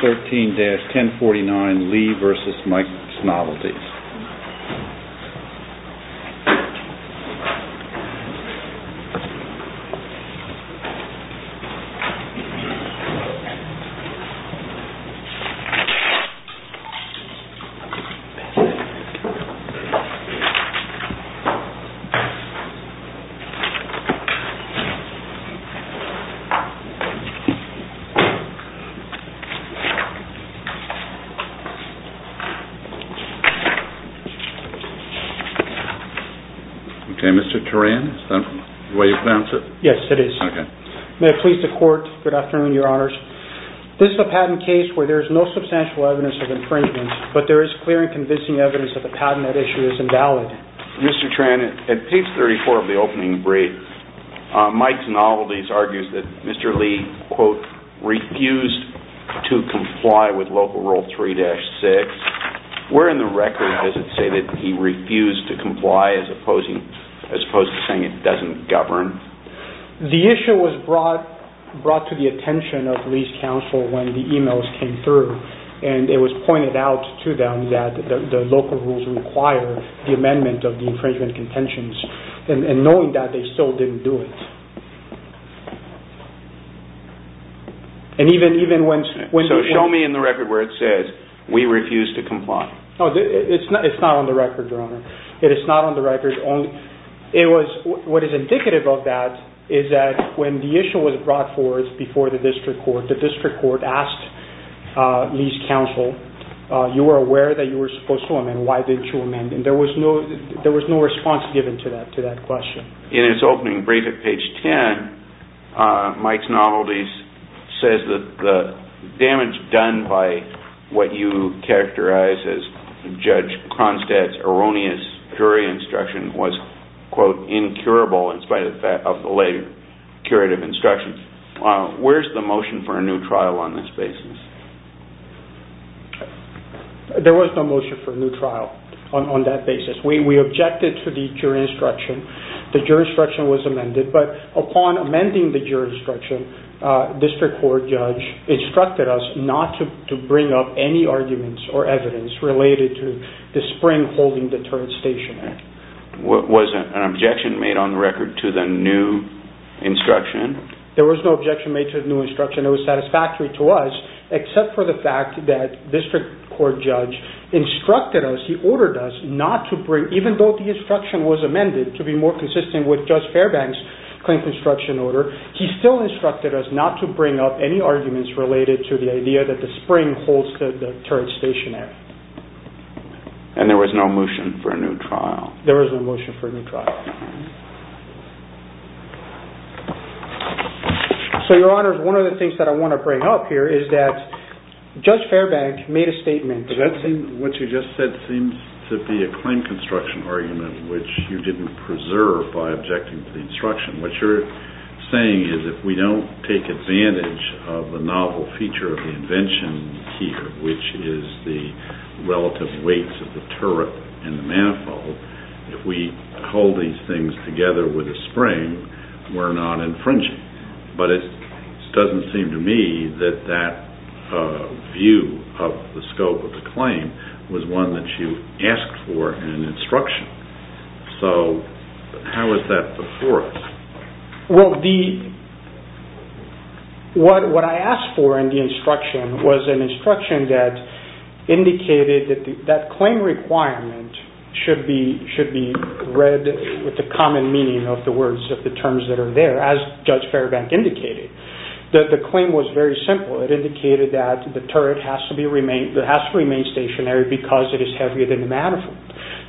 13-1049 LEE v. MIKE'S NOVELTIES This is a patent case where there is no substantial evidence of infringement, but there is clear and convincing evidence that the patent at issue is invalid. Mr. Tran, at page 34 of the opening brief, Mike's Novelties argues that Mr. Lee, quote, refused to comply with Local Rule 3-6. Where in the record does it say that he refused to comply as opposed to saying it doesn't govern? The issue was brought to the attention of Lee's counsel when the emails came through and it was pointed out to them that the local rules require the amendment of the infringement contentions and knowing that they still didn't do it. So show me in the record where it says, we refuse to comply. It's not on the record, Your Honor. What is indicative of that is that when the issue was brought forth before the district court, the district court asked Lee's counsel, you were aware that you were supposed to amend, why didn't you amend? There was no response given to that question. In its opening brief at page 10, Mike's Novelties says that the damage done by what you characterize as Judge Cronstadt's erroneous jury instruction was, quote, incurable in spite of the later curative instruction. Where is the motion for a new trial on this basis? There was no motion for a new trial on that basis. We objected to the jury instruction. The jury instruction was amended, but upon amending the jury instruction, the district court judge instructed us not to bring up any arguments or evidence related to the Spring Holding Deterrents Station Act. Was an objection made on the record to the new instruction? There was no objection made to the new instruction. It was satisfactory to us, except for the fact that district court judge instructed us, he ordered us not to bring, even though the instruction was amended to be more consistent with Judge Fairbank's claim construction order, he still instructed us not to bring up any arguments related to the idea that the Spring Holds Deterrents Station Act. And there was no motion for a new trial? There was no motion for a new trial. So, Your Honor, one of the things that I want to bring up here is that Judge Fairbank made a statement. What you just said seems to be a claim construction argument, which you didn't preserve by objecting to the instruction. What you're saying is if we don't take advantage of the novel feature of the invention here, which is the relative weights of the turret and the manifold, if we hold these things together with the spring, we're not infringing. But it doesn't seem to me that that view of the scope of the claim was one that you asked for in the instruction. So, how is that before us? Well, what I asked for in the instruction was an instruction that indicated that the claim requirement should be read with the common meaning of the terms that are there, as Judge Fairbank indicated. The claim was very simple. It indicated that the turret has to remain stationary because it is heavier than the manifold.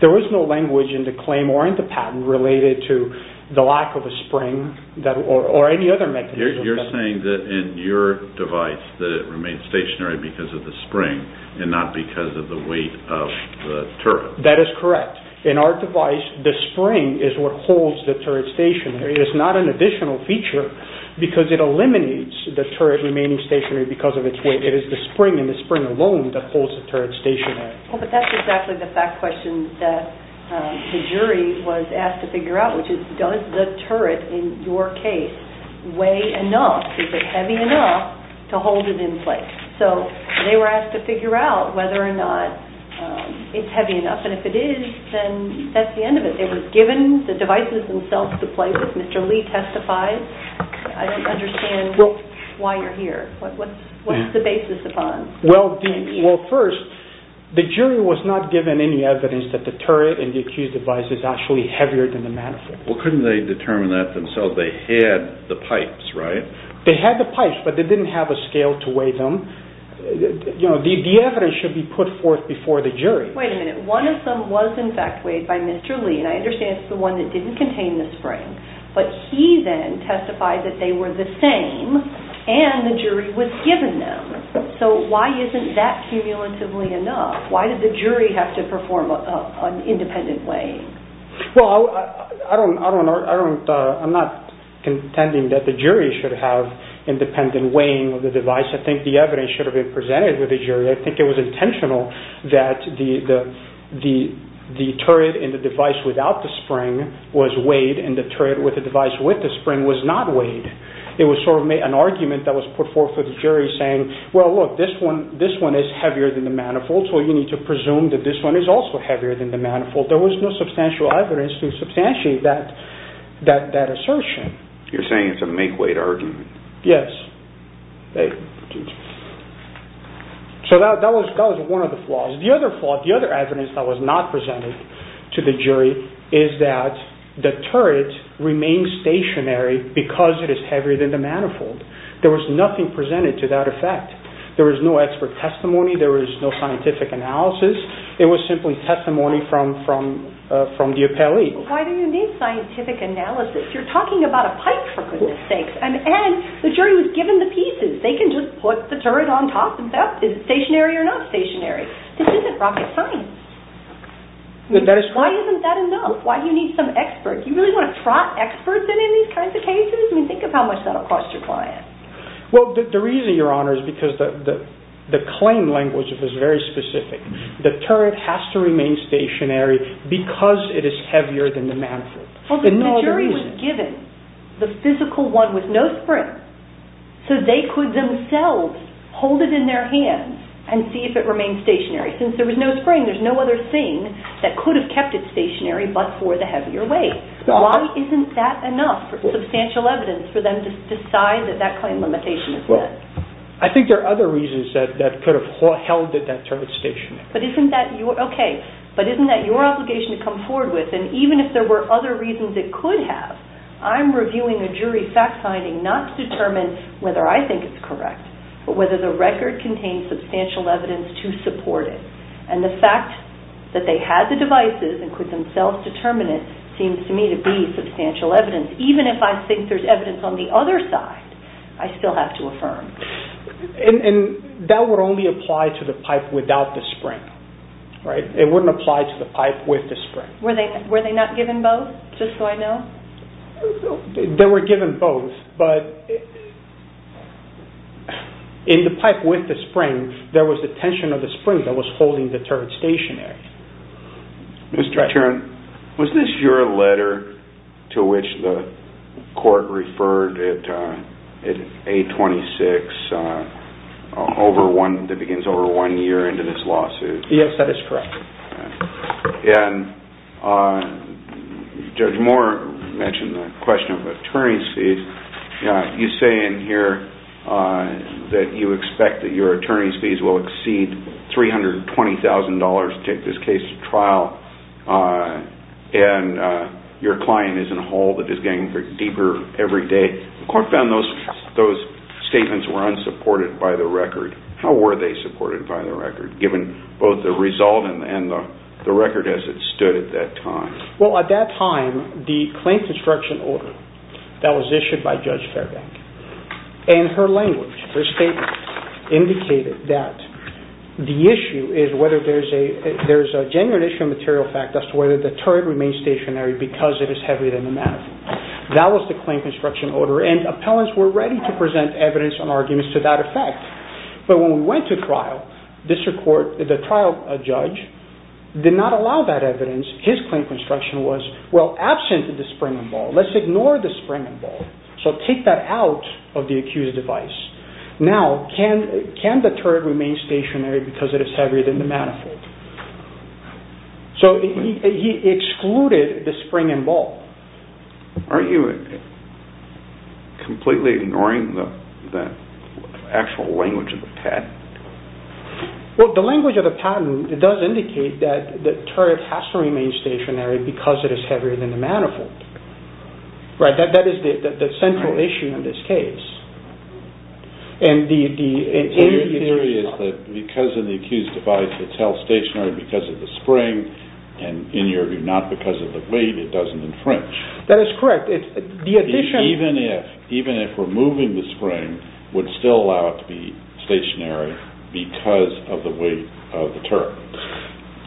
There was no language in the claim or in the patent related to the lack of a spring or any other mechanism. You're saying that in your device that it remains stationary because of the spring and not because of the weight of the turret. That is correct. In our device, the spring is what holds the turret stationary. It is not an additional feature because it eliminates the turret remaining stationary because of its weight. It is the spring and the spring alone that holds the turret stationary. But that's exactly the fact question that the jury was asked to figure out, which is does the turret, in your case, weigh enough? Is it heavy enough to hold it in place? So, they were asked to figure out whether or not it's heavy enough. And if it is, then that's the end of it. It was given the devices themselves to play with. Mr. Lee testified. I don't understand why you're here. What's the basis upon? Well, first, the jury was not given any evidence that the turret in the accused device is actually heavier than the manifold. Well, couldn't they determine that themselves? They had the pipes, right? They had the pipes, but they didn't have a scale to weigh them. The evidence should be put forth before the jury. Wait a minute. One of them was in fact weighed by Mr. Lee, and I understand it's the one that didn't contain the spring. But he then testified that they were the same, and the jury was given them. So, why isn't that cumulatively enough? Why did the jury have to perform an independent weighing? Well, I'm not contending that the jury should have independent weighing of the device. I think the evidence should have been presented with the jury. I think it was intentional that the turret in the device without the spring was weighed, and the turret with the device with the spring was not weighed. It was sort of an argument that was put forth for the jury saying, well, look, this one is heavier than the manifold, so you need to presume that this one is also heavier than the manifold. There was no substantial evidence to substantiate that assertion. You're saying it's a make-weight argument. Yes. So, that was one of the flaws. The other flaw, the other evidence that was not presented to the jury is that the turret remains stationary because it is heavier than the manifold. There was nothing presented to that effect. There was no expert testimony. There was no scientific analysis. It was simply testimony from the appellee. Why do you need scientific analysis? You're talking about a pipe, for goodness sakes. And the jury was given the pieces. They can just put the turret on top and say, oh, is it stationary or not stationary? This isn't rocket science. Why isn't that enough? Why do you need some expert? Do you really want to trot experts in these kinds of cases? I mean, think of how much that will cost your client. Well, the reason, Your Honor, is because the claim language was very specific. The turret has to remain stationary because it is heavier than the manifold. The jury was given the physical one with no spring, so they could themselves hold it in their hands and see if it remained stationary. Since there was no spring, there's no other thing that could have kept it stationary but for the heavier weight. Why isn't that enough substantial evidence for them to decide that that claim limitation is set? I think there are other reasons that could have held that that turret stationary. Okay, but isn't that your obligation to come forward with? And even if there were other reasons it could have, I'm reviewing a jury fact-finding not to determine whether I think it's correct but whether the record contains substantial evidence to support it. And the fact that they had the devices and could themselves determine it seems to me to be substantial evidence. Even if I think there's evidence on the other side, I still have to affirm. And that would only apply to the pipe without the spring, right? It wouldn't apply to the pipe with the spring. Were they not given both, just so I know? They were given both but in the pipe with the spring, there was the tension of the spring that was holding the turret stationary. Mr. Tern, was this your letter to which the court referred at 826, that begins over one year into this lawsuit? Yes, that is correct. And Judge Moore mentioned the question of attorney's fees. You say in here that you expect that your attorney's fees will exceed $320,000 to take this case to trial, and your client is in a hole that is getting deeper every day. The court found those statements were unsupported by the record. How were they supported by the record, given both the result and the record as it stood at that time? Well, at that time, the claim construction order that was issued by Judge Fairbank and her language, her statement, indicated that the issue is whether there's a genuine issue of material fact as to whether the turret remains stationary because it is heavier than the matter. That was the claim construction order, and appellants were ready to present evidence and arguments to that effect. But when we went to trial, the trial judge did not allow that evidence. His claim construction was, well, absent the spring and ball. Let's ignore the spring and ball. So take that out of the accused's device. Now, can the turret remain stationary because it is heavier than the matter? So he excluded the spring and ball. Are you completely ignoring the actual language of the patent? Well, the language of the patent does indicate that the turret has to remain stationary because it is heavier than the matter. That is the central issue in this case. And the theory is that because of the accused's device, it's held stationary because of the spring, and in your view, not because of the weight, it doesn't infringe. That is correct. Even if removing the spring would still allow it to be stationary because of the weight of the turret.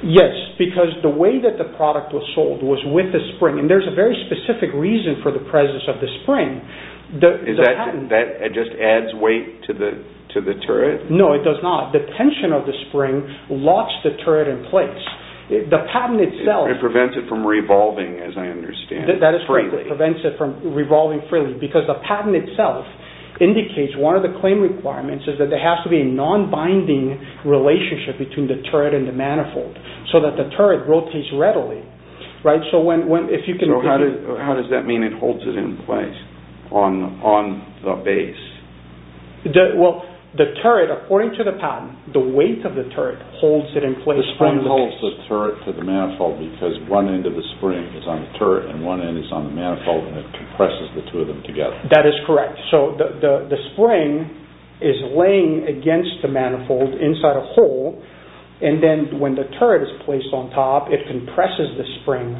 Yes, because the way that the product was sold was with the spring, and there's a very specific reason for the presence of the spring. That just adds weight to the turret? No, it does not. The tension of the spring locks the turret in place. It prevents it from revolving, as I understand it, freely. That is correct. It prevents it from revolving freely because the patent itself indicates one of the claim requirements is that there has to be a non-binding relationship between the turret and the manifold so that the turret rotates readily. So how does that mean it holds it in place on the base? Well, the turret, according to the patent, the weight of the turret holds it in place. The spring holds the turret to the manifold because one end of the spring is on the turret and one end is on the manifold, and it compresses the two of them together. That is correct. So the spring is laying against the manifold inside a hole, and then when the turret is placed on top, it compresses the spring,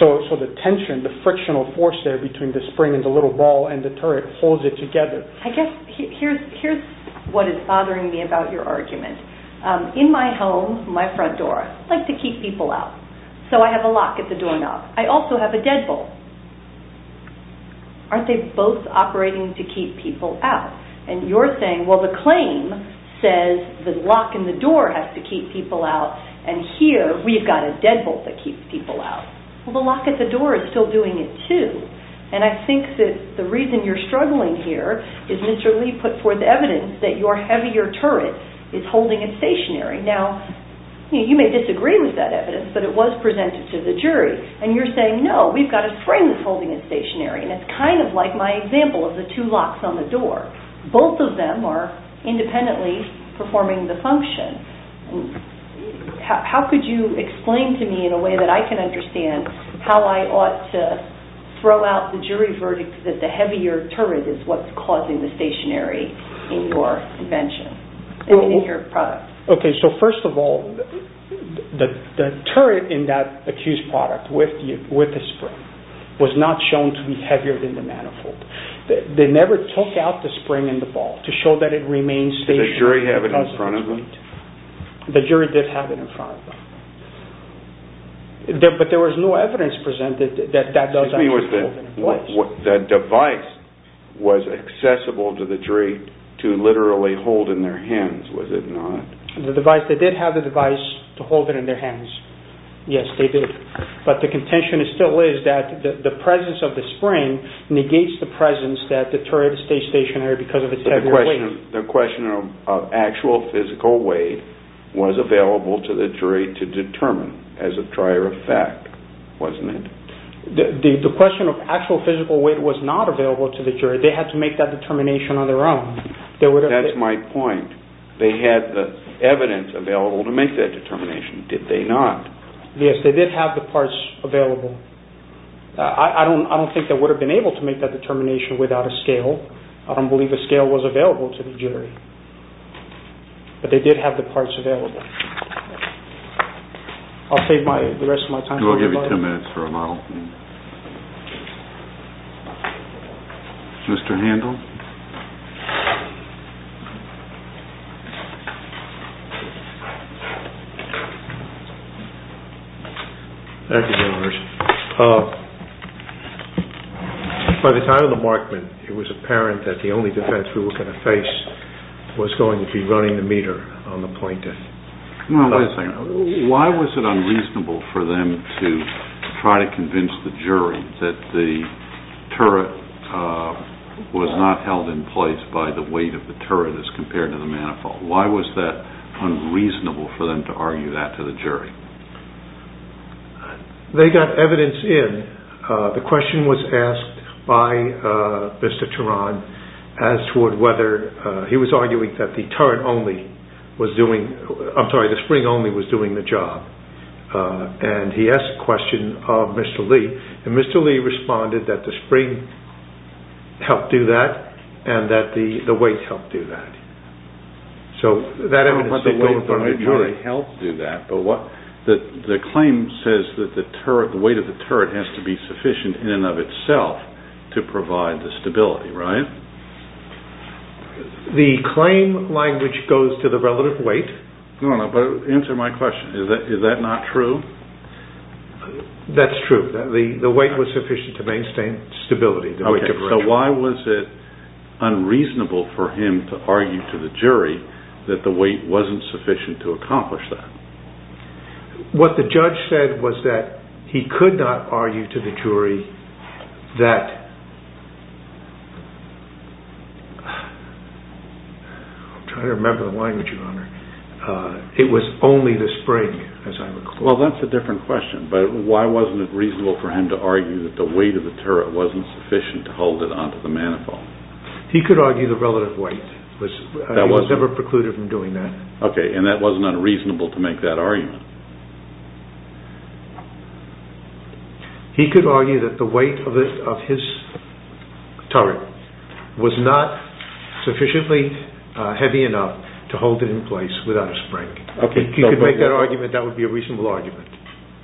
so the tension, the frictional force there between the spring and the little ball and the turret holds it together. I guess here's what is bothering me about your argument. In my home, my front door, I like to keep people out, so I have a lock at the doorknob. I also have a deadbolt. Aren't they both operating to keep people out? And you're saying, well, the claim says the lock in the door has to keep people out, and here we've got a deadbolt that keeps people out. Well, the lock at the door is still doing it too, and I think that the reason you're struggling here is Mr. Lee put forth evidence that your heavier turret is holding it stationary. Now, you may disagree with that evidence, but it was presented to the jury, and you're saying, no, we've got a spring that's holding it stationary, and it's kind of like my example of the two locks on the door. Both of them are independently performing the function. How could you explain to me in a way that I can understand how I ought to throw out the jury verdict that the heavier turret is what's causing the stationary in your invention, I mean in your product? Okay, so first of all, the turret in that accused product with the spring was not shown to be heavier than the manifold. They never took out the spring and the bolt to show that it remained stationary. Did the jury have it in front of them? The jury did have it in front of them. But there was no evidence presented that that doesn't hold it in place. The device was accessible to the jury to literally hold in their hands, was it not? The device, they did have the device to hold it in their hands. Yes, they did. But the contention still is that the presence of the spring negates the presence that the turret stays stationary because of its heavier weight. But the question of actual physical weight was available to the jury to determine as a prior effect, wasn't it? The question of actual physical weight was not available to the jury. They had to make that determination on their own. That's my point. They had the evidence available to make that determination, did they not? Yes, they did have the parts available. I don't think they would have been able to make that determination without a scale. I don't believe a scale was available to the jury. But they did have the parts available. I'll save the rest of my time. We'll give you 10 minutes for a model. Mr. Handel? Thank you, General Hirsch. By the time of the Markman, it was apparent that the only defense we were going to face was going to be running the meter on the plaintiff. Wait a second. Why was it unreasonable for them to try to convince the jury that the turret was not held in place by the weight of the turret as compared to the manifold? Why was that unreasonable for them to argue that to the jury? They got evidence in. The question was asked by Mr. Turan as to whether... He was arguing that the turret only was doing... I'm sorry, the spring only was doing the job. And he asked the question of Mr. Lee. And Mr. Lee responded that the spring helped do that and that the weight helped do that. So that evidence is going to the jury. The claim says that the weight of the turret has to be sufficient in and of itself to provide the stability, right? The claim language goes to the relative weight. Answer my question. Is that not true? That's true. The weight was sufficient to maintain stability. So why was it unreasonable for him to argue to the jury that the weight wasn't sufficient to accomplish that? What the judge said was that he could not argue to the jury that... I'm trying to remember the language, Your Honor. It was only the spring, as I recall. Well, that's a different question. But why wasn't it reasonable for him to argue that the weight of the turret wasn't sufficient to hold it onto the manifold? He could argue the relative weight. He was never precluded from doing that. Okay. And that wasn't unreasonable to make that argument? He could argue that the weight of his turret was not sufficiently heavy enough to hold it in place without a spring. If he could make that argument, that would be a reasonable argument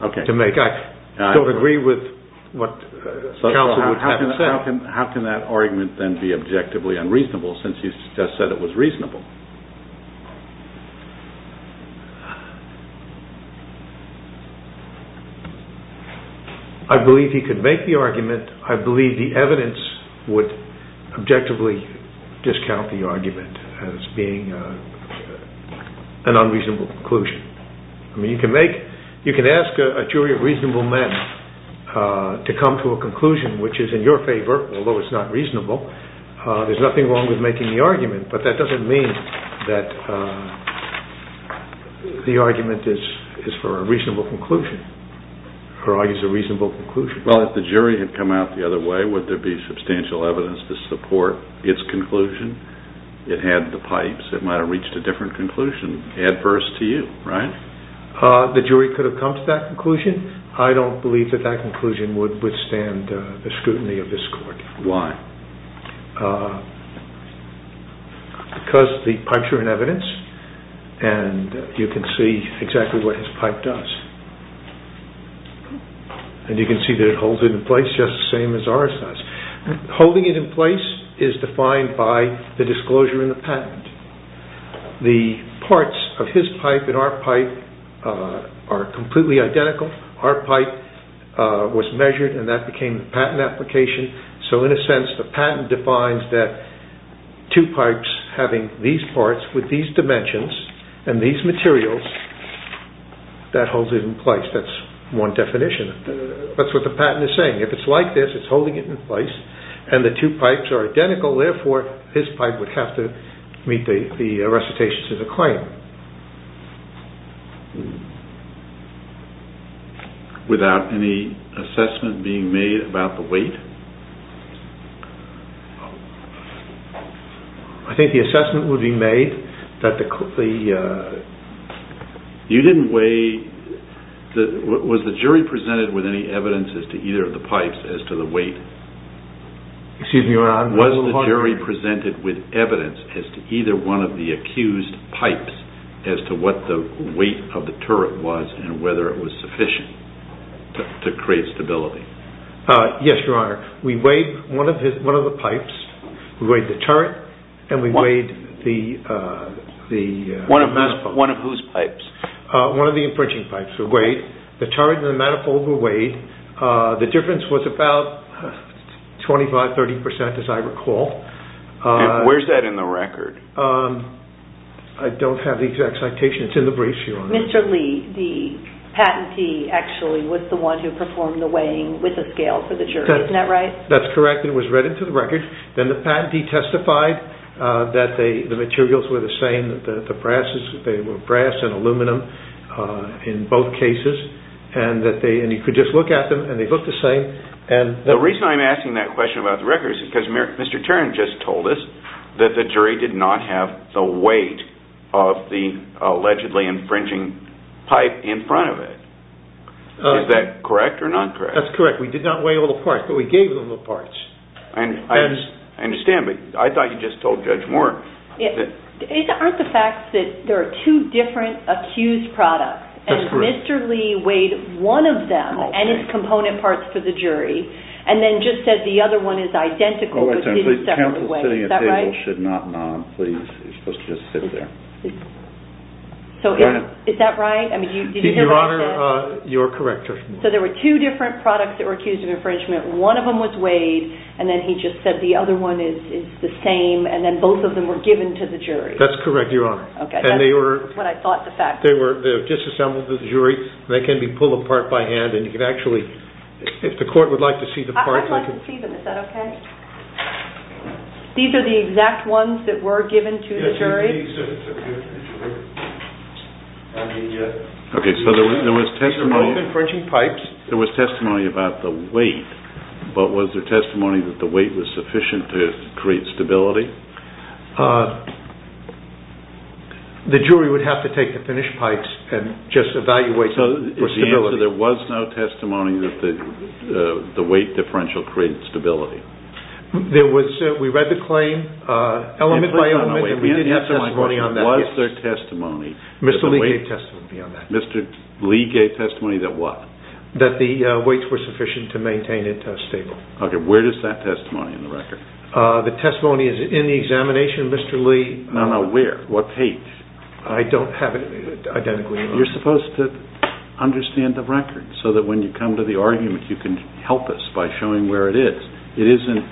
to make. I don't agree with what counsel would have him say. How can that argument then be objectively unreasonable since you just said it was reasonable? I believe he could make the argument. I believe the evidence would objectively discount the argument as being an unreasonable conclusion. You can ask a jury of reasonable men to come to a conclusion which is in your favor, although it's not reasonable. There's nothing wrong with making the argument, but that doesn't mean that the argument is for a reasonable conclusion or argues a reasonable conclusion. Well, if the jury had come out the other way, would there be substantial evidence to support its conclusion? It had the pipes. It might have reached a different conclusion adverse to you, right? The jury could have come to that conclusion. I don't believe that that conclusion would withstand the scrutiny of this court. Why? Because the pipes are in evidence and you can see exactly what his pipe does. You can see that it holds it in place just the same as ours does. Holding it in place is defined by the disclosure in the patent. The parts of his pipe and our pipe are completely identical. Our pipe was measured and that became the patent application. So, in a sense, the patent defines that two pipes having these parts with these dimensions and these materials, that holds it in place. That's one definition. That's what the patent is saying. If it's like this, it's holding it in place and the two pipes are identical, therefore, his pipe would have to meet the recitations as a claim. Without any assessment being made about the weight? I think the assessment would be made that the... You didn't weigh... Was the jury presented with any evidence as to either of the pipes as to the weight? Excuse me, Your Honor. Was the jury presented with evidence as to either one of the accused pipes as to what the weight of the turret was and whether it was sufficient to create stability? Yes, Your Honor. We weighed one of the pipes. We weighed the turret and we weighed the... One of whose pipes? One of the infringing pipes. The turret and the manifold were weighed. The difference was about 25-30%, as I recall. Where's that in the record? I don't have the exact citation. It's in the briefs, Your Honor. Mr. Lee, the patentee actually was the one who performed the weighing with the scale for the jury. Isn't that right? That's correct. It was read into the record. Then the patentee testified that the materials were the same, that they were brass and aluminum in both cases. And you could just look at them and they looked the same. The reason I'm asking that question about the record is because Mr. Tarrant just told us that the jury did not have the weight of the allegedly infringing pipe in front of it. Is that correct or not correct? That's correct. We did not weigh all the parts, but we gave them the parts. I understand, but I thought you just told Judge Moore. Aren't the facts that there are two different accused products, and Mr. Lee weighed one of them and its component parts for the jury, and then just said the other one is identical, but didn't separate the weights. Is that right? Counsel sitting at the table should not nod, please. You're supposed to just sit there. Is that right? So there were two different products that were accused of infringement. One of them was weighed, and then he just said the other one is the same, and then both of them were given to the jury. That's correct, Your Honor. That's what I thought the facts were. They were disassembled to the jury. They can be pulled apart by hand. If the court would like to see the parts… I'd like to see them. Is that okay? Okay, so there was testimony about the weight, but was there testimony that the weight was sufficient to create stability? The jury would have to take the finished pipes and just evaluate for stability. So the answer is there was no testimony that the weight differential created stability? We read the claim, element by element, and we did have testimony on that. Was there testimony that the weight… Mr. Lee gave testimony on that. Mr. Lee gave testimony that what? That the weights were sufficient to maintain it stable. Okay, where is that testimony in the record? The testimony is in the examination. Mr. Lee… No, no, where? What page? I don't have it identically. You're supposed to understand the record so that when you come to the argument you can help us by showing where it is. It isn't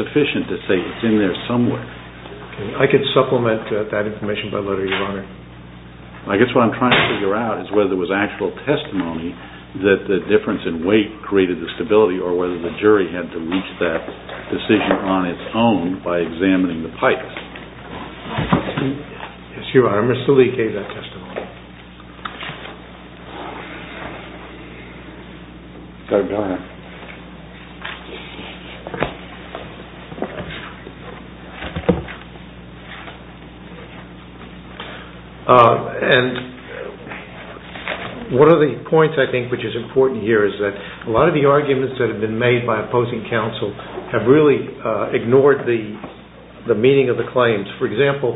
sufficient to say it's in there somewhere. I could supplement that information by letter, Your Honor. I guess what I'm trying to figure out is whether there was actual testimony that the difference in weight created the stability or whether the jury had to reach that decision on its own by examining the pipes. Yes, Your Honor, Mr. Lee gave that testimony. One of the points I think which is important here is that a lot of the arguments that have been made by opposing counsel have really ignored the meaning of the claims. For example,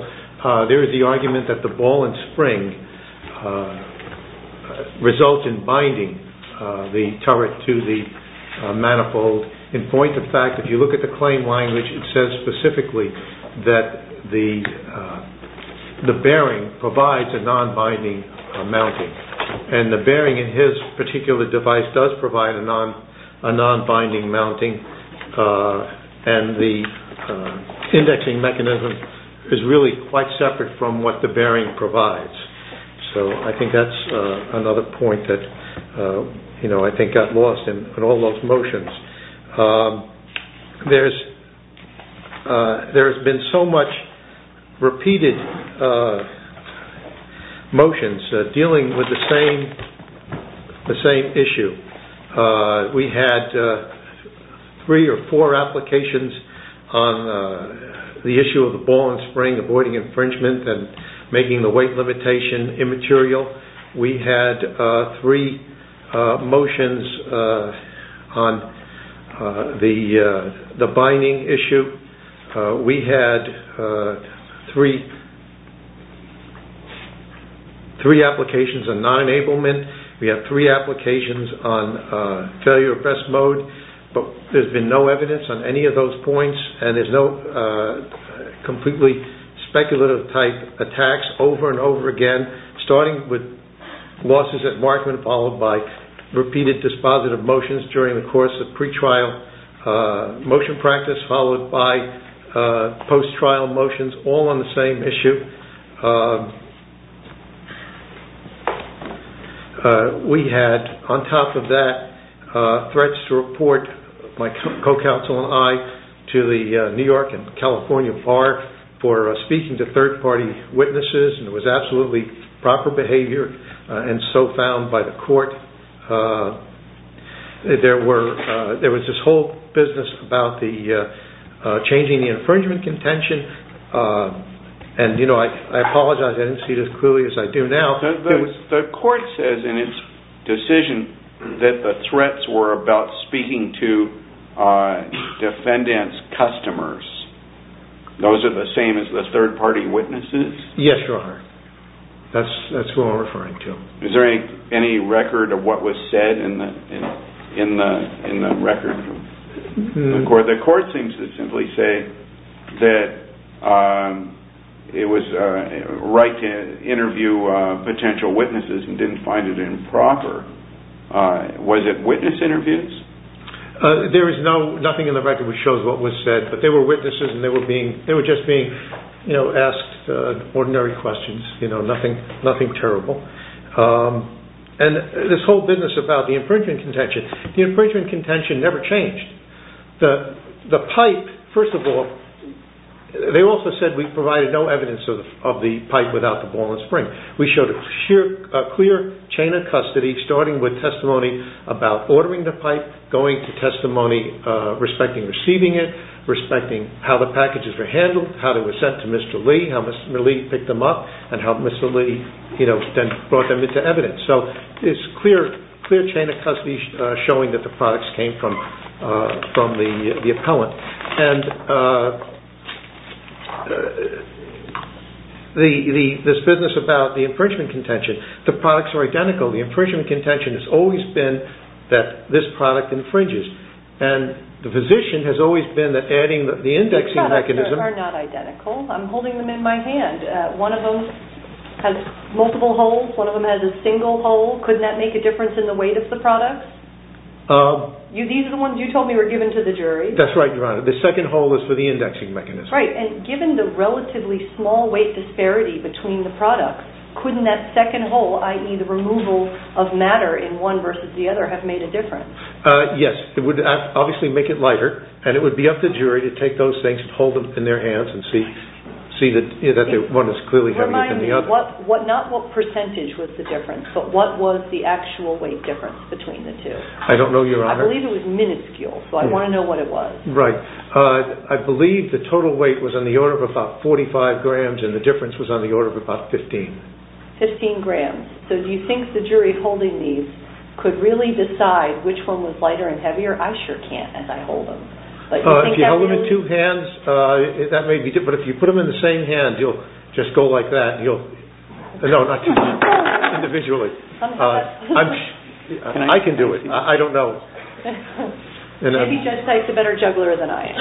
there is the argument that the ball and spring result in binding the turret to the manifold. In point of fact, if you look at the claim language, it says specifically that the bearing provides a non-binding mounting. And the bearing in his particular device does provide a non-binding mounting. And the indexing mechanism is really quite separate from what the bearing provides. So I think that's another point that got lost in all those motions. There's been so much repeated motions dealing with the same issue. We had three or four applications on the issue of the ball and spring avoiding infringement and making the weight limitation immaterial. We had three motions on the binding issue. We had three applications on non-enablement. We had three applications on failure of best mode. There's been no evidence on any of those points. And there's no completely speculative type attacks over and over again. Starting with losses at Markman, followed by repeated dispositive motions during the course of pre-trial motion practice, followed by post-trial motions, all on the same issue. We had, on top of that, threats to report my co-counsel and I to the New York and California FARC for speaking to third-party witnesses. It was absolutely proper behavior and so found by the court. There was this whole business about changing the infringement contention. And I apologize, I didn't see it as clearly as I do now. The court says in its decision that the threats were about speaking to defendant's customers. Those are the same as the third-party witnesses? Yes, Your Honor. That's who I'm referring to. Is there any record of what was said in the record? The court seems to simply say that it was right to interview potential witnesses and didn't find it improper. Was it witness interviews? There is nothing in the record that shows what was said, but they were witnesses and they were just being asked ordinary questions. Nothing terrible. And this whole business about the infringement contention, the infringement contention never changed. The pipe, first of all, they also said we provided no evidence of the pipe without the ball and spring. We showed a clear chain of custody starting with testimony about ordering the pipe, going to testimony respecting receiving it, respecting how the packages were handled, how they were sent to Mr. Lee, how Mr. Lee picked them up and how Mr. Lee brought them into evidence. So it's a clear chain of custody showing that the products came from the appellant. And this business about the infringement contention, the products are identical. The infringement contention has always been that this product infringes. And the physician has always been adding the indexing mechanism. The products are not identical. I'm holding them in my hand. One of them has multiple holes. One of them has a single hole. Couldn't that make a difference in the weight of the products? These are the ones you told me were given to the jury. That's right, Your Honor. The second hole is for the indexing mechanism. Right. And given the relatively small weight disparity between the products, couldn't that second hole, i.e. the removal of matter in one versus the other, have made a difference? Yes. It would obviously make it lighter. And it would be up to jury to take those things and hold them in their hands and see that one is clearly heavier than the other. Remind me, not what percentage was the difference, but what was the actual weight difference between the two? I don't know, Your Honor. I believe it was minuscule, so I want to know what it was. Right. I believe the total weight was on the order of about 45 grams and the difference was on the order of about 15. 15 grams. So do you think the jury holding these could really decide which one was lighter and heavier? I sure can't as I hold them. If you hold them in two hands, that may be different. If you put them in the same hand, you'll just go like that. No, not two hands. Individually. I can do it. I don't know. Maybe Judge Dyke is a better juggler than I am.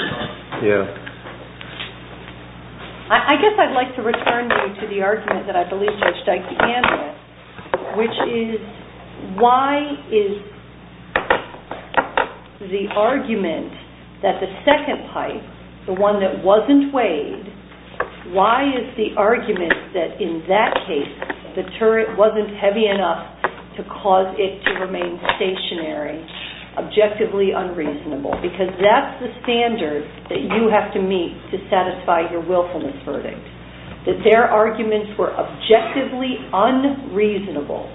I guess I'd like to return you to the argument that I believe Judge Dyke began with, which is why is the argument that the second pipe, the one that wasn't weighed, why is the argument that in that case the turret wasn't heavy enough to cause it to remain stationary objectively unreasonable? Because that's the standard that you have to meet to satisfy your willfulness verdict. That their arguments were objectively unreasonable.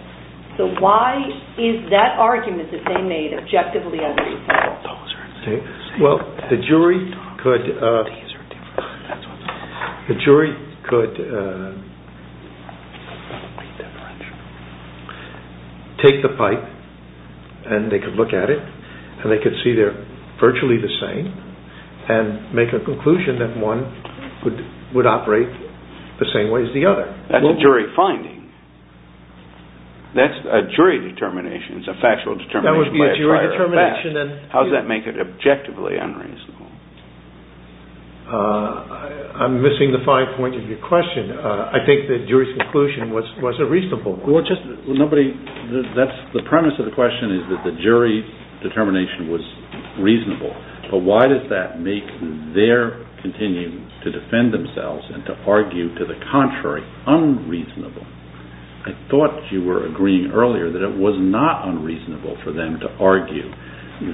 So why is that argument that they made objectively unreasonable? Well, the jury could take the pipe and they could look at it and they could see they're virtually the same and make a conclusion that one would operate the same way as the other. That's a jury finding. That's a jury determination. It's a factual determination. How does that make it objectively unreasonable? I'm missing the fine point of your question. I think the jury's conclusion was a reasonable one. The premise of the question is that the jury determination was reasonable. But why does that make their continuing to defend themselves and to argue to the contrary unreasonable? I thought you were agreeing earlier that it was not unreasonable for them to argue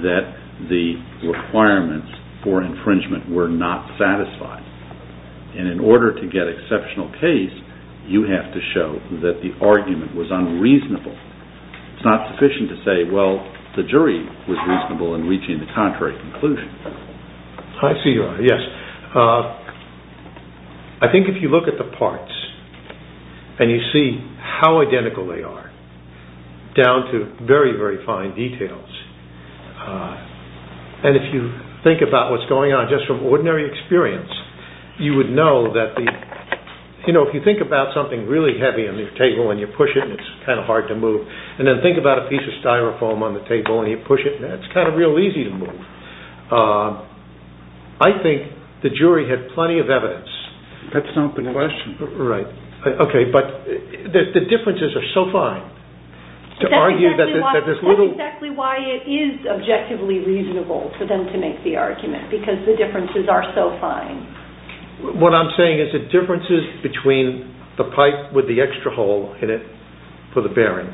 that the requirements for infringement were not satisfied. And in order to get exceptional case, you have to show that the argument was unreasonable. It's not sufficient to say, well, the jury was reasonable in reaching the contrary conclusion. I think if you look at the parts and you see how identical they are, down to very, very fine details, and if you think about what's going on just from ordinary experience, you would know that if you think about something really heavy on your table and you push it and it's kind of hard to move, and then think about a piece of styrofoam on the table and you push it, it's kind of real easy to move. I think the jury had plenty of evidence. That's not the question. Okay, but the differences are so fine. That's exactly why it is objectively reasonable for them to make the argument, because the differences are so fine. What I'm saying is the differences between the pipe with the extra hole in it for the bearing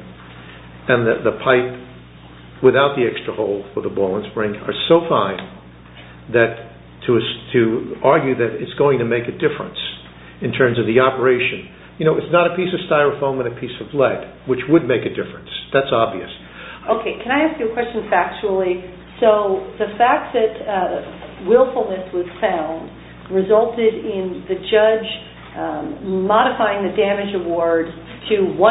and the pipe without the extra hole for the ball and spring are so fine that to argue that it's going to make a difference in terms of the operation. You know, it's not a piece of styrofoam and a piece of lead, which would make a difference. That's obvious. Okay, can I ask you a question factually? So the fact that willfulness was found resulted in the judge modifying the damage award to 1.75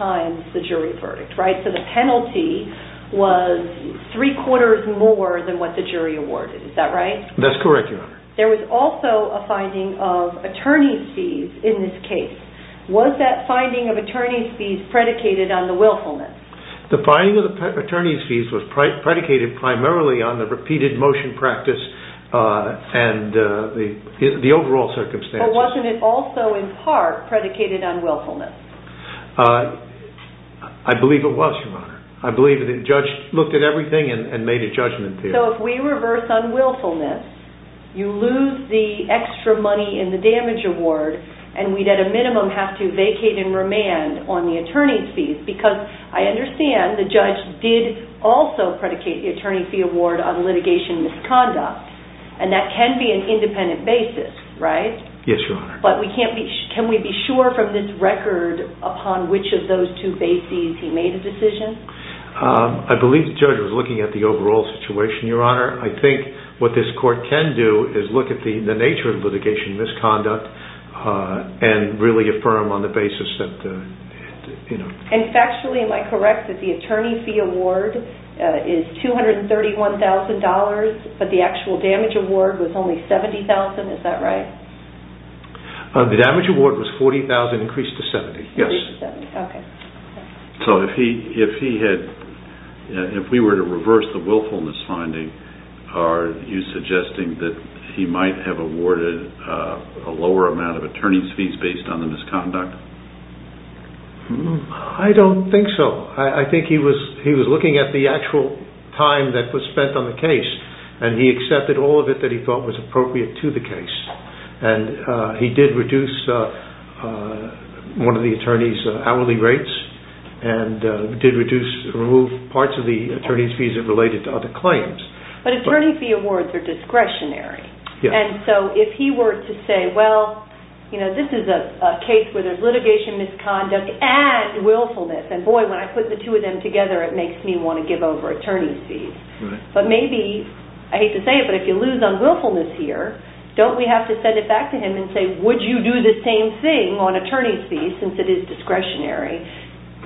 times the jury verdict, right? So the penalty was three-quarters more than what the jury awarded. Is that right? That's correct, Your Honor. There was also a finding of attorney's fees in this case. Was that finding of attorney's fees predicated on the willfulness? The finding of attorney's fees was predicated primarily on the repeated motion practice and the overall circumstances. But wasn't it also in part predicated on willfulness? I believe it was, Your Honor. I believe the judge looked at everything and made a judgment there. So if we reverse on willfulness, you lose the extra money in the damage award, and we'd at a minimum have to vacate and remand on the attorney's fees, because I understand the judge did also predicate the attorney's fee award on litigation misconduct. And that can be an independent basis, right? Yes, Your Honor. But can we be sure from this record upon which of those two bases he made a decision? I believe the judge was looking at the overall situation, Your Honor. I think what this court can do is look at the nature of litigation misconduct and really affirm on the basis that, you know. And factually, am I correct that the attorney's fee award is $231,000, but the actual damage award was only $70,000? Is that right? The damage award was $40,000 increased to $70,000. Increased to $70,000, okay. So if we were to reverse the willfulness finding, are you suggesting that he might have awarded a lower amount of attorney's fees based on the misconduct? I don't think so. I think he was looking at the actual time that was spent on the case, and he accepted all of it that he thought was appropriate to the case. And he did reduce one of the attorney's hourly rates, and did remove parts of the attorney's fees that related to other claims. But attorney's fee awards are discretionary. Yes. And so if he were to say, well, you know, this is a case where there's litigation misconduct and willfulness, and boy, when I put the two of them together, it makes me want to give over attorney's fees. Right. But maybe, I hate to say it, but if you lose on willfulness here, don't we have to send it back to him and say, would you do the same thing on attorney's fees since it is discretionary?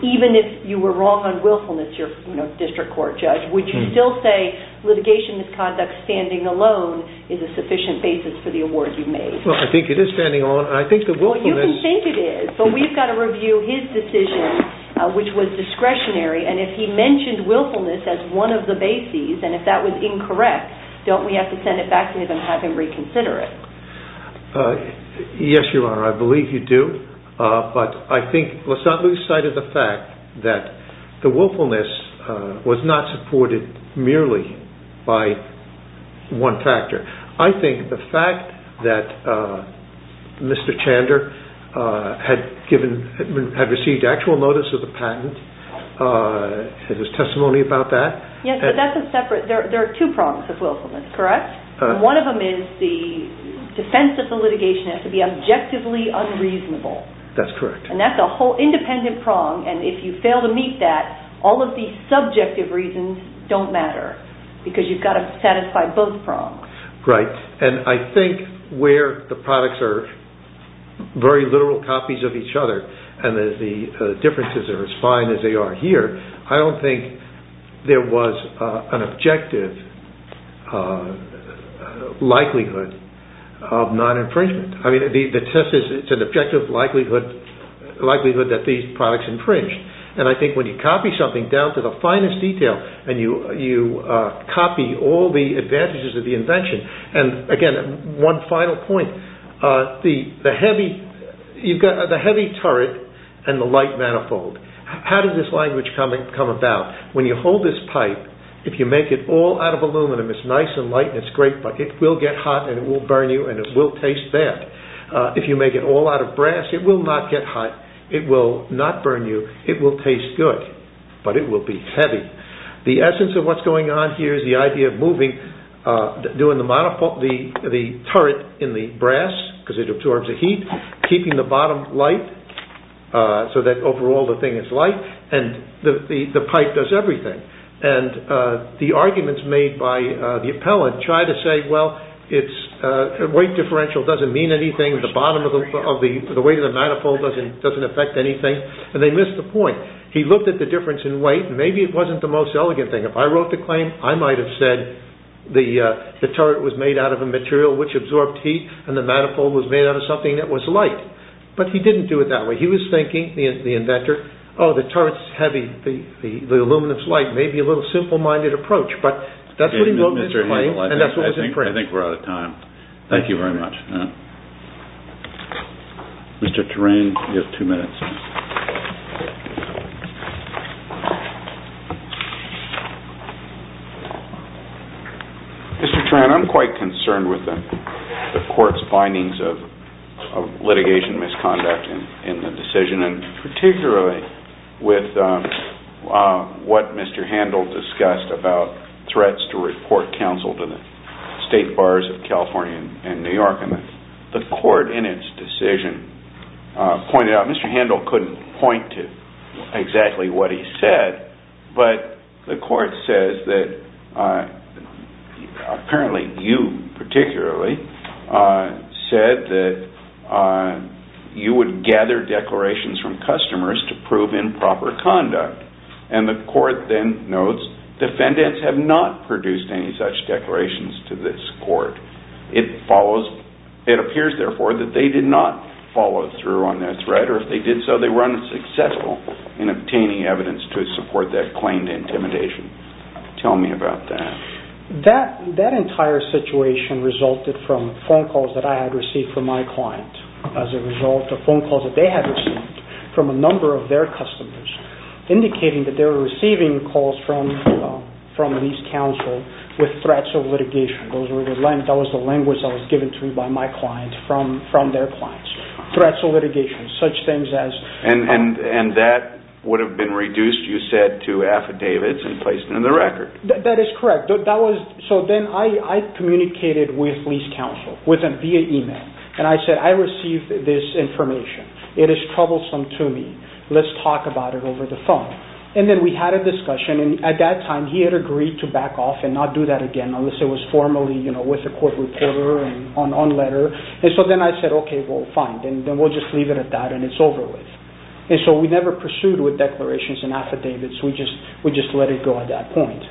Even if you were wrong on willfulness, you're a district court judge, would you still say litigation misconduct standing alone is a sufficient basis for the award you made? Well, I think it is standing alone. I think the willfulness... Well, you can think it is. But we've got to review his decision, which was discretionary. And if he mentioned willfulness as one of the bases, and if that was incorrect, don't we have to send it back to him and have him reconsider it? Yes, Your Honor, I believe you do. But I think, let's not lose sight of the fact that the willfulness was not supported merely by one factor. I think the fact that Mr. Chander had received actual notice of the patent, and his testimony about that... Yes, but that's a separate... There are two prongs of willfulness, correct? One of them is the defense of the litigation has to be objectively unreasonable. That's correct. And that's a whole independent prong, and if you fail to meet that, all of the subjective reasons don't matter, because you've got to satisfy both prongs. Right. And I think where the products are very literal copies of each other, and the differences are as fine as they are here, I don't think there was an objective likelihood of non-infringement. I mean, the test is it's an objective likelihood that these products infringed. And I think when you copy something down to the finest detail, and you copy all the advantages of the invention, and again, one final point, the heavy turret and the light manifold. How did this language come about? When you hold this pipe, if you make it all out of aluminum, it's nice and light and it's great, but it will get hot and it will burn you, and it will taste bad. If you make it all out of brass, it will not get hot, it will not burn you, it will taste good, but it will be heavy. The essence of what's going on here is the idea of moving, doing the turret in the brass, because it absorbs the heat, keeping the bottom light so that overall the thing is light, and the pipe does everything. And the arguments made by the appellant try to say, well, weight differential doesn't mean anything, the weight of the manifold doesn't affect anything, and they missed the point. He looked at the difference in weight, and maybe it wasn't the most elegant thing. If I wrote the claim, I might have said, the turret was made out of a material which absorbed heat, and the manifold was made out of something that was light. But he didn't do it that way. He was thinking, the inventor, oh, the turret is heavy, the aluminum is light, maybe a little simple-minded approach, but that's what he wrote in his claim, and that's what was in print. I think we're out of time. Thank you very much. Mr. Turan, you have two minutes. Mr. Turan, I'm quite concerned with the Court's findings of litigation misconduct in the decision, and particularly with what Mr. Handel discussed about threats to report counsel to the State Bars of California and New York. The Court, in its decision, pointed out, Mr. Handel couldn't point to exactly what he said, but the Court says that apparently you particularly said that you would gather declarations from customers to prove improper conduct. And the Court then notes, defendants have not produced any such declarations to this Court. It appears, therefore, that they did not follow through on their threat, or if they did so, they were unsuccessful in obtaining evidence to support that claim to intimidation. Tell me about that. That entire situation resulted from phone calls that I had received from my client, as a result of phone calls that they had received from a number of their customers, indicating that they were receiving calls from an East Council with threats of litigation. That was the language that was given to me by my client from their clients. Threats of litigation, such things as... And that would have been reduced, you said, to affidavits and placed in the record. That is correct. So then I communicated with East Council via email, and I said, I received this information. It is troublesome to me. Let's talk about it over the phone. And then we had a discussion, and at that time, he had agreed to back off and not do that again unless it was formally with the court reporter and on letter. And so then I said, OK, well, fine, then we'll just leave it at that and it's over with. And so we never pursued with declarations and affidavits. We just let it go at that point.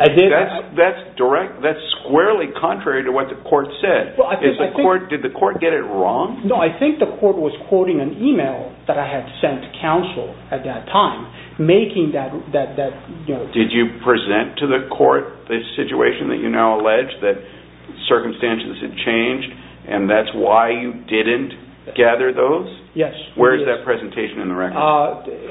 That's squarely contrary to what the court said. Did the court get it wrong? No, I think the court was quoting an email that I had sent to counsel at that time, making that... Did you present to the court the situation that you now allege that circumstances had changed, and that's why you didn't gather those? Yes. Where is that presentation in the record?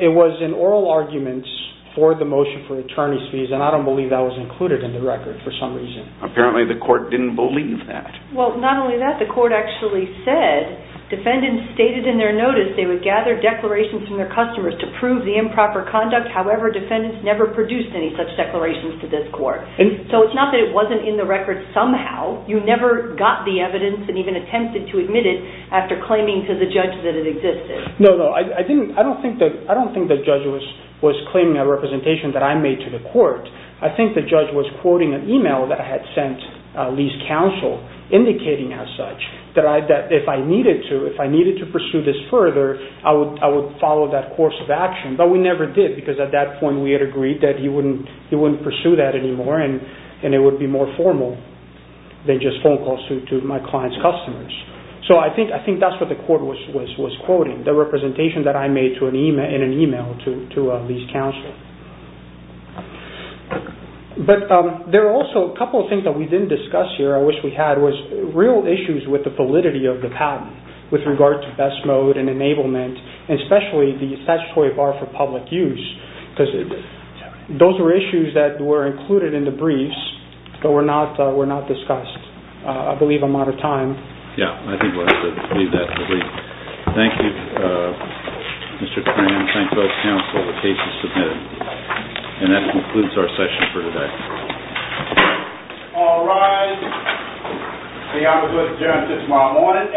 It was in oral arguments for the motion for attorney's fees, and I don't believe that was included in the record for some reason. Apparently the court didn't believe that. Well, not only that, the court actually said, defendants stated in their notice they would gather declarations from their customers to prove the improper conduct. However, defendants never produced any such declarations to this court. So it's not that it wasn't in the record somehow. You never got the evidence and even attempted to admit it after claiming to the judge that it existed. No, no, I don't think the judge was claiming a representation that I made to the court. I think the judge was quoting an email that I had sent Lee's counsel, indicating as such that if I needed to pursue this further, I would follow that course of action. But we never did, because at that point we had agreed that he wouldn't pursue that anymore, and it would be more formal than just phone calls to my client's customers. So I think that's what the court was quoting, the representation that I made in an email to Lee's counsel. But there are also a couple of things that we didn't discuss here, I wish we had, was real issues with the validity of the patent with regard to best mode and enablement, and especially the statutory bar for public use, because those were issues that were included in the briefs, but were not discussed. I believe I'm out of time. Yeah, I think we'll have to leave that to Lee. Thank you, Mr. Cram. Thanks to both counsel, the case is submitted. And that concludes our session for today. All rise. The hearing is adjourned until tomorrow morning at 2 a.m.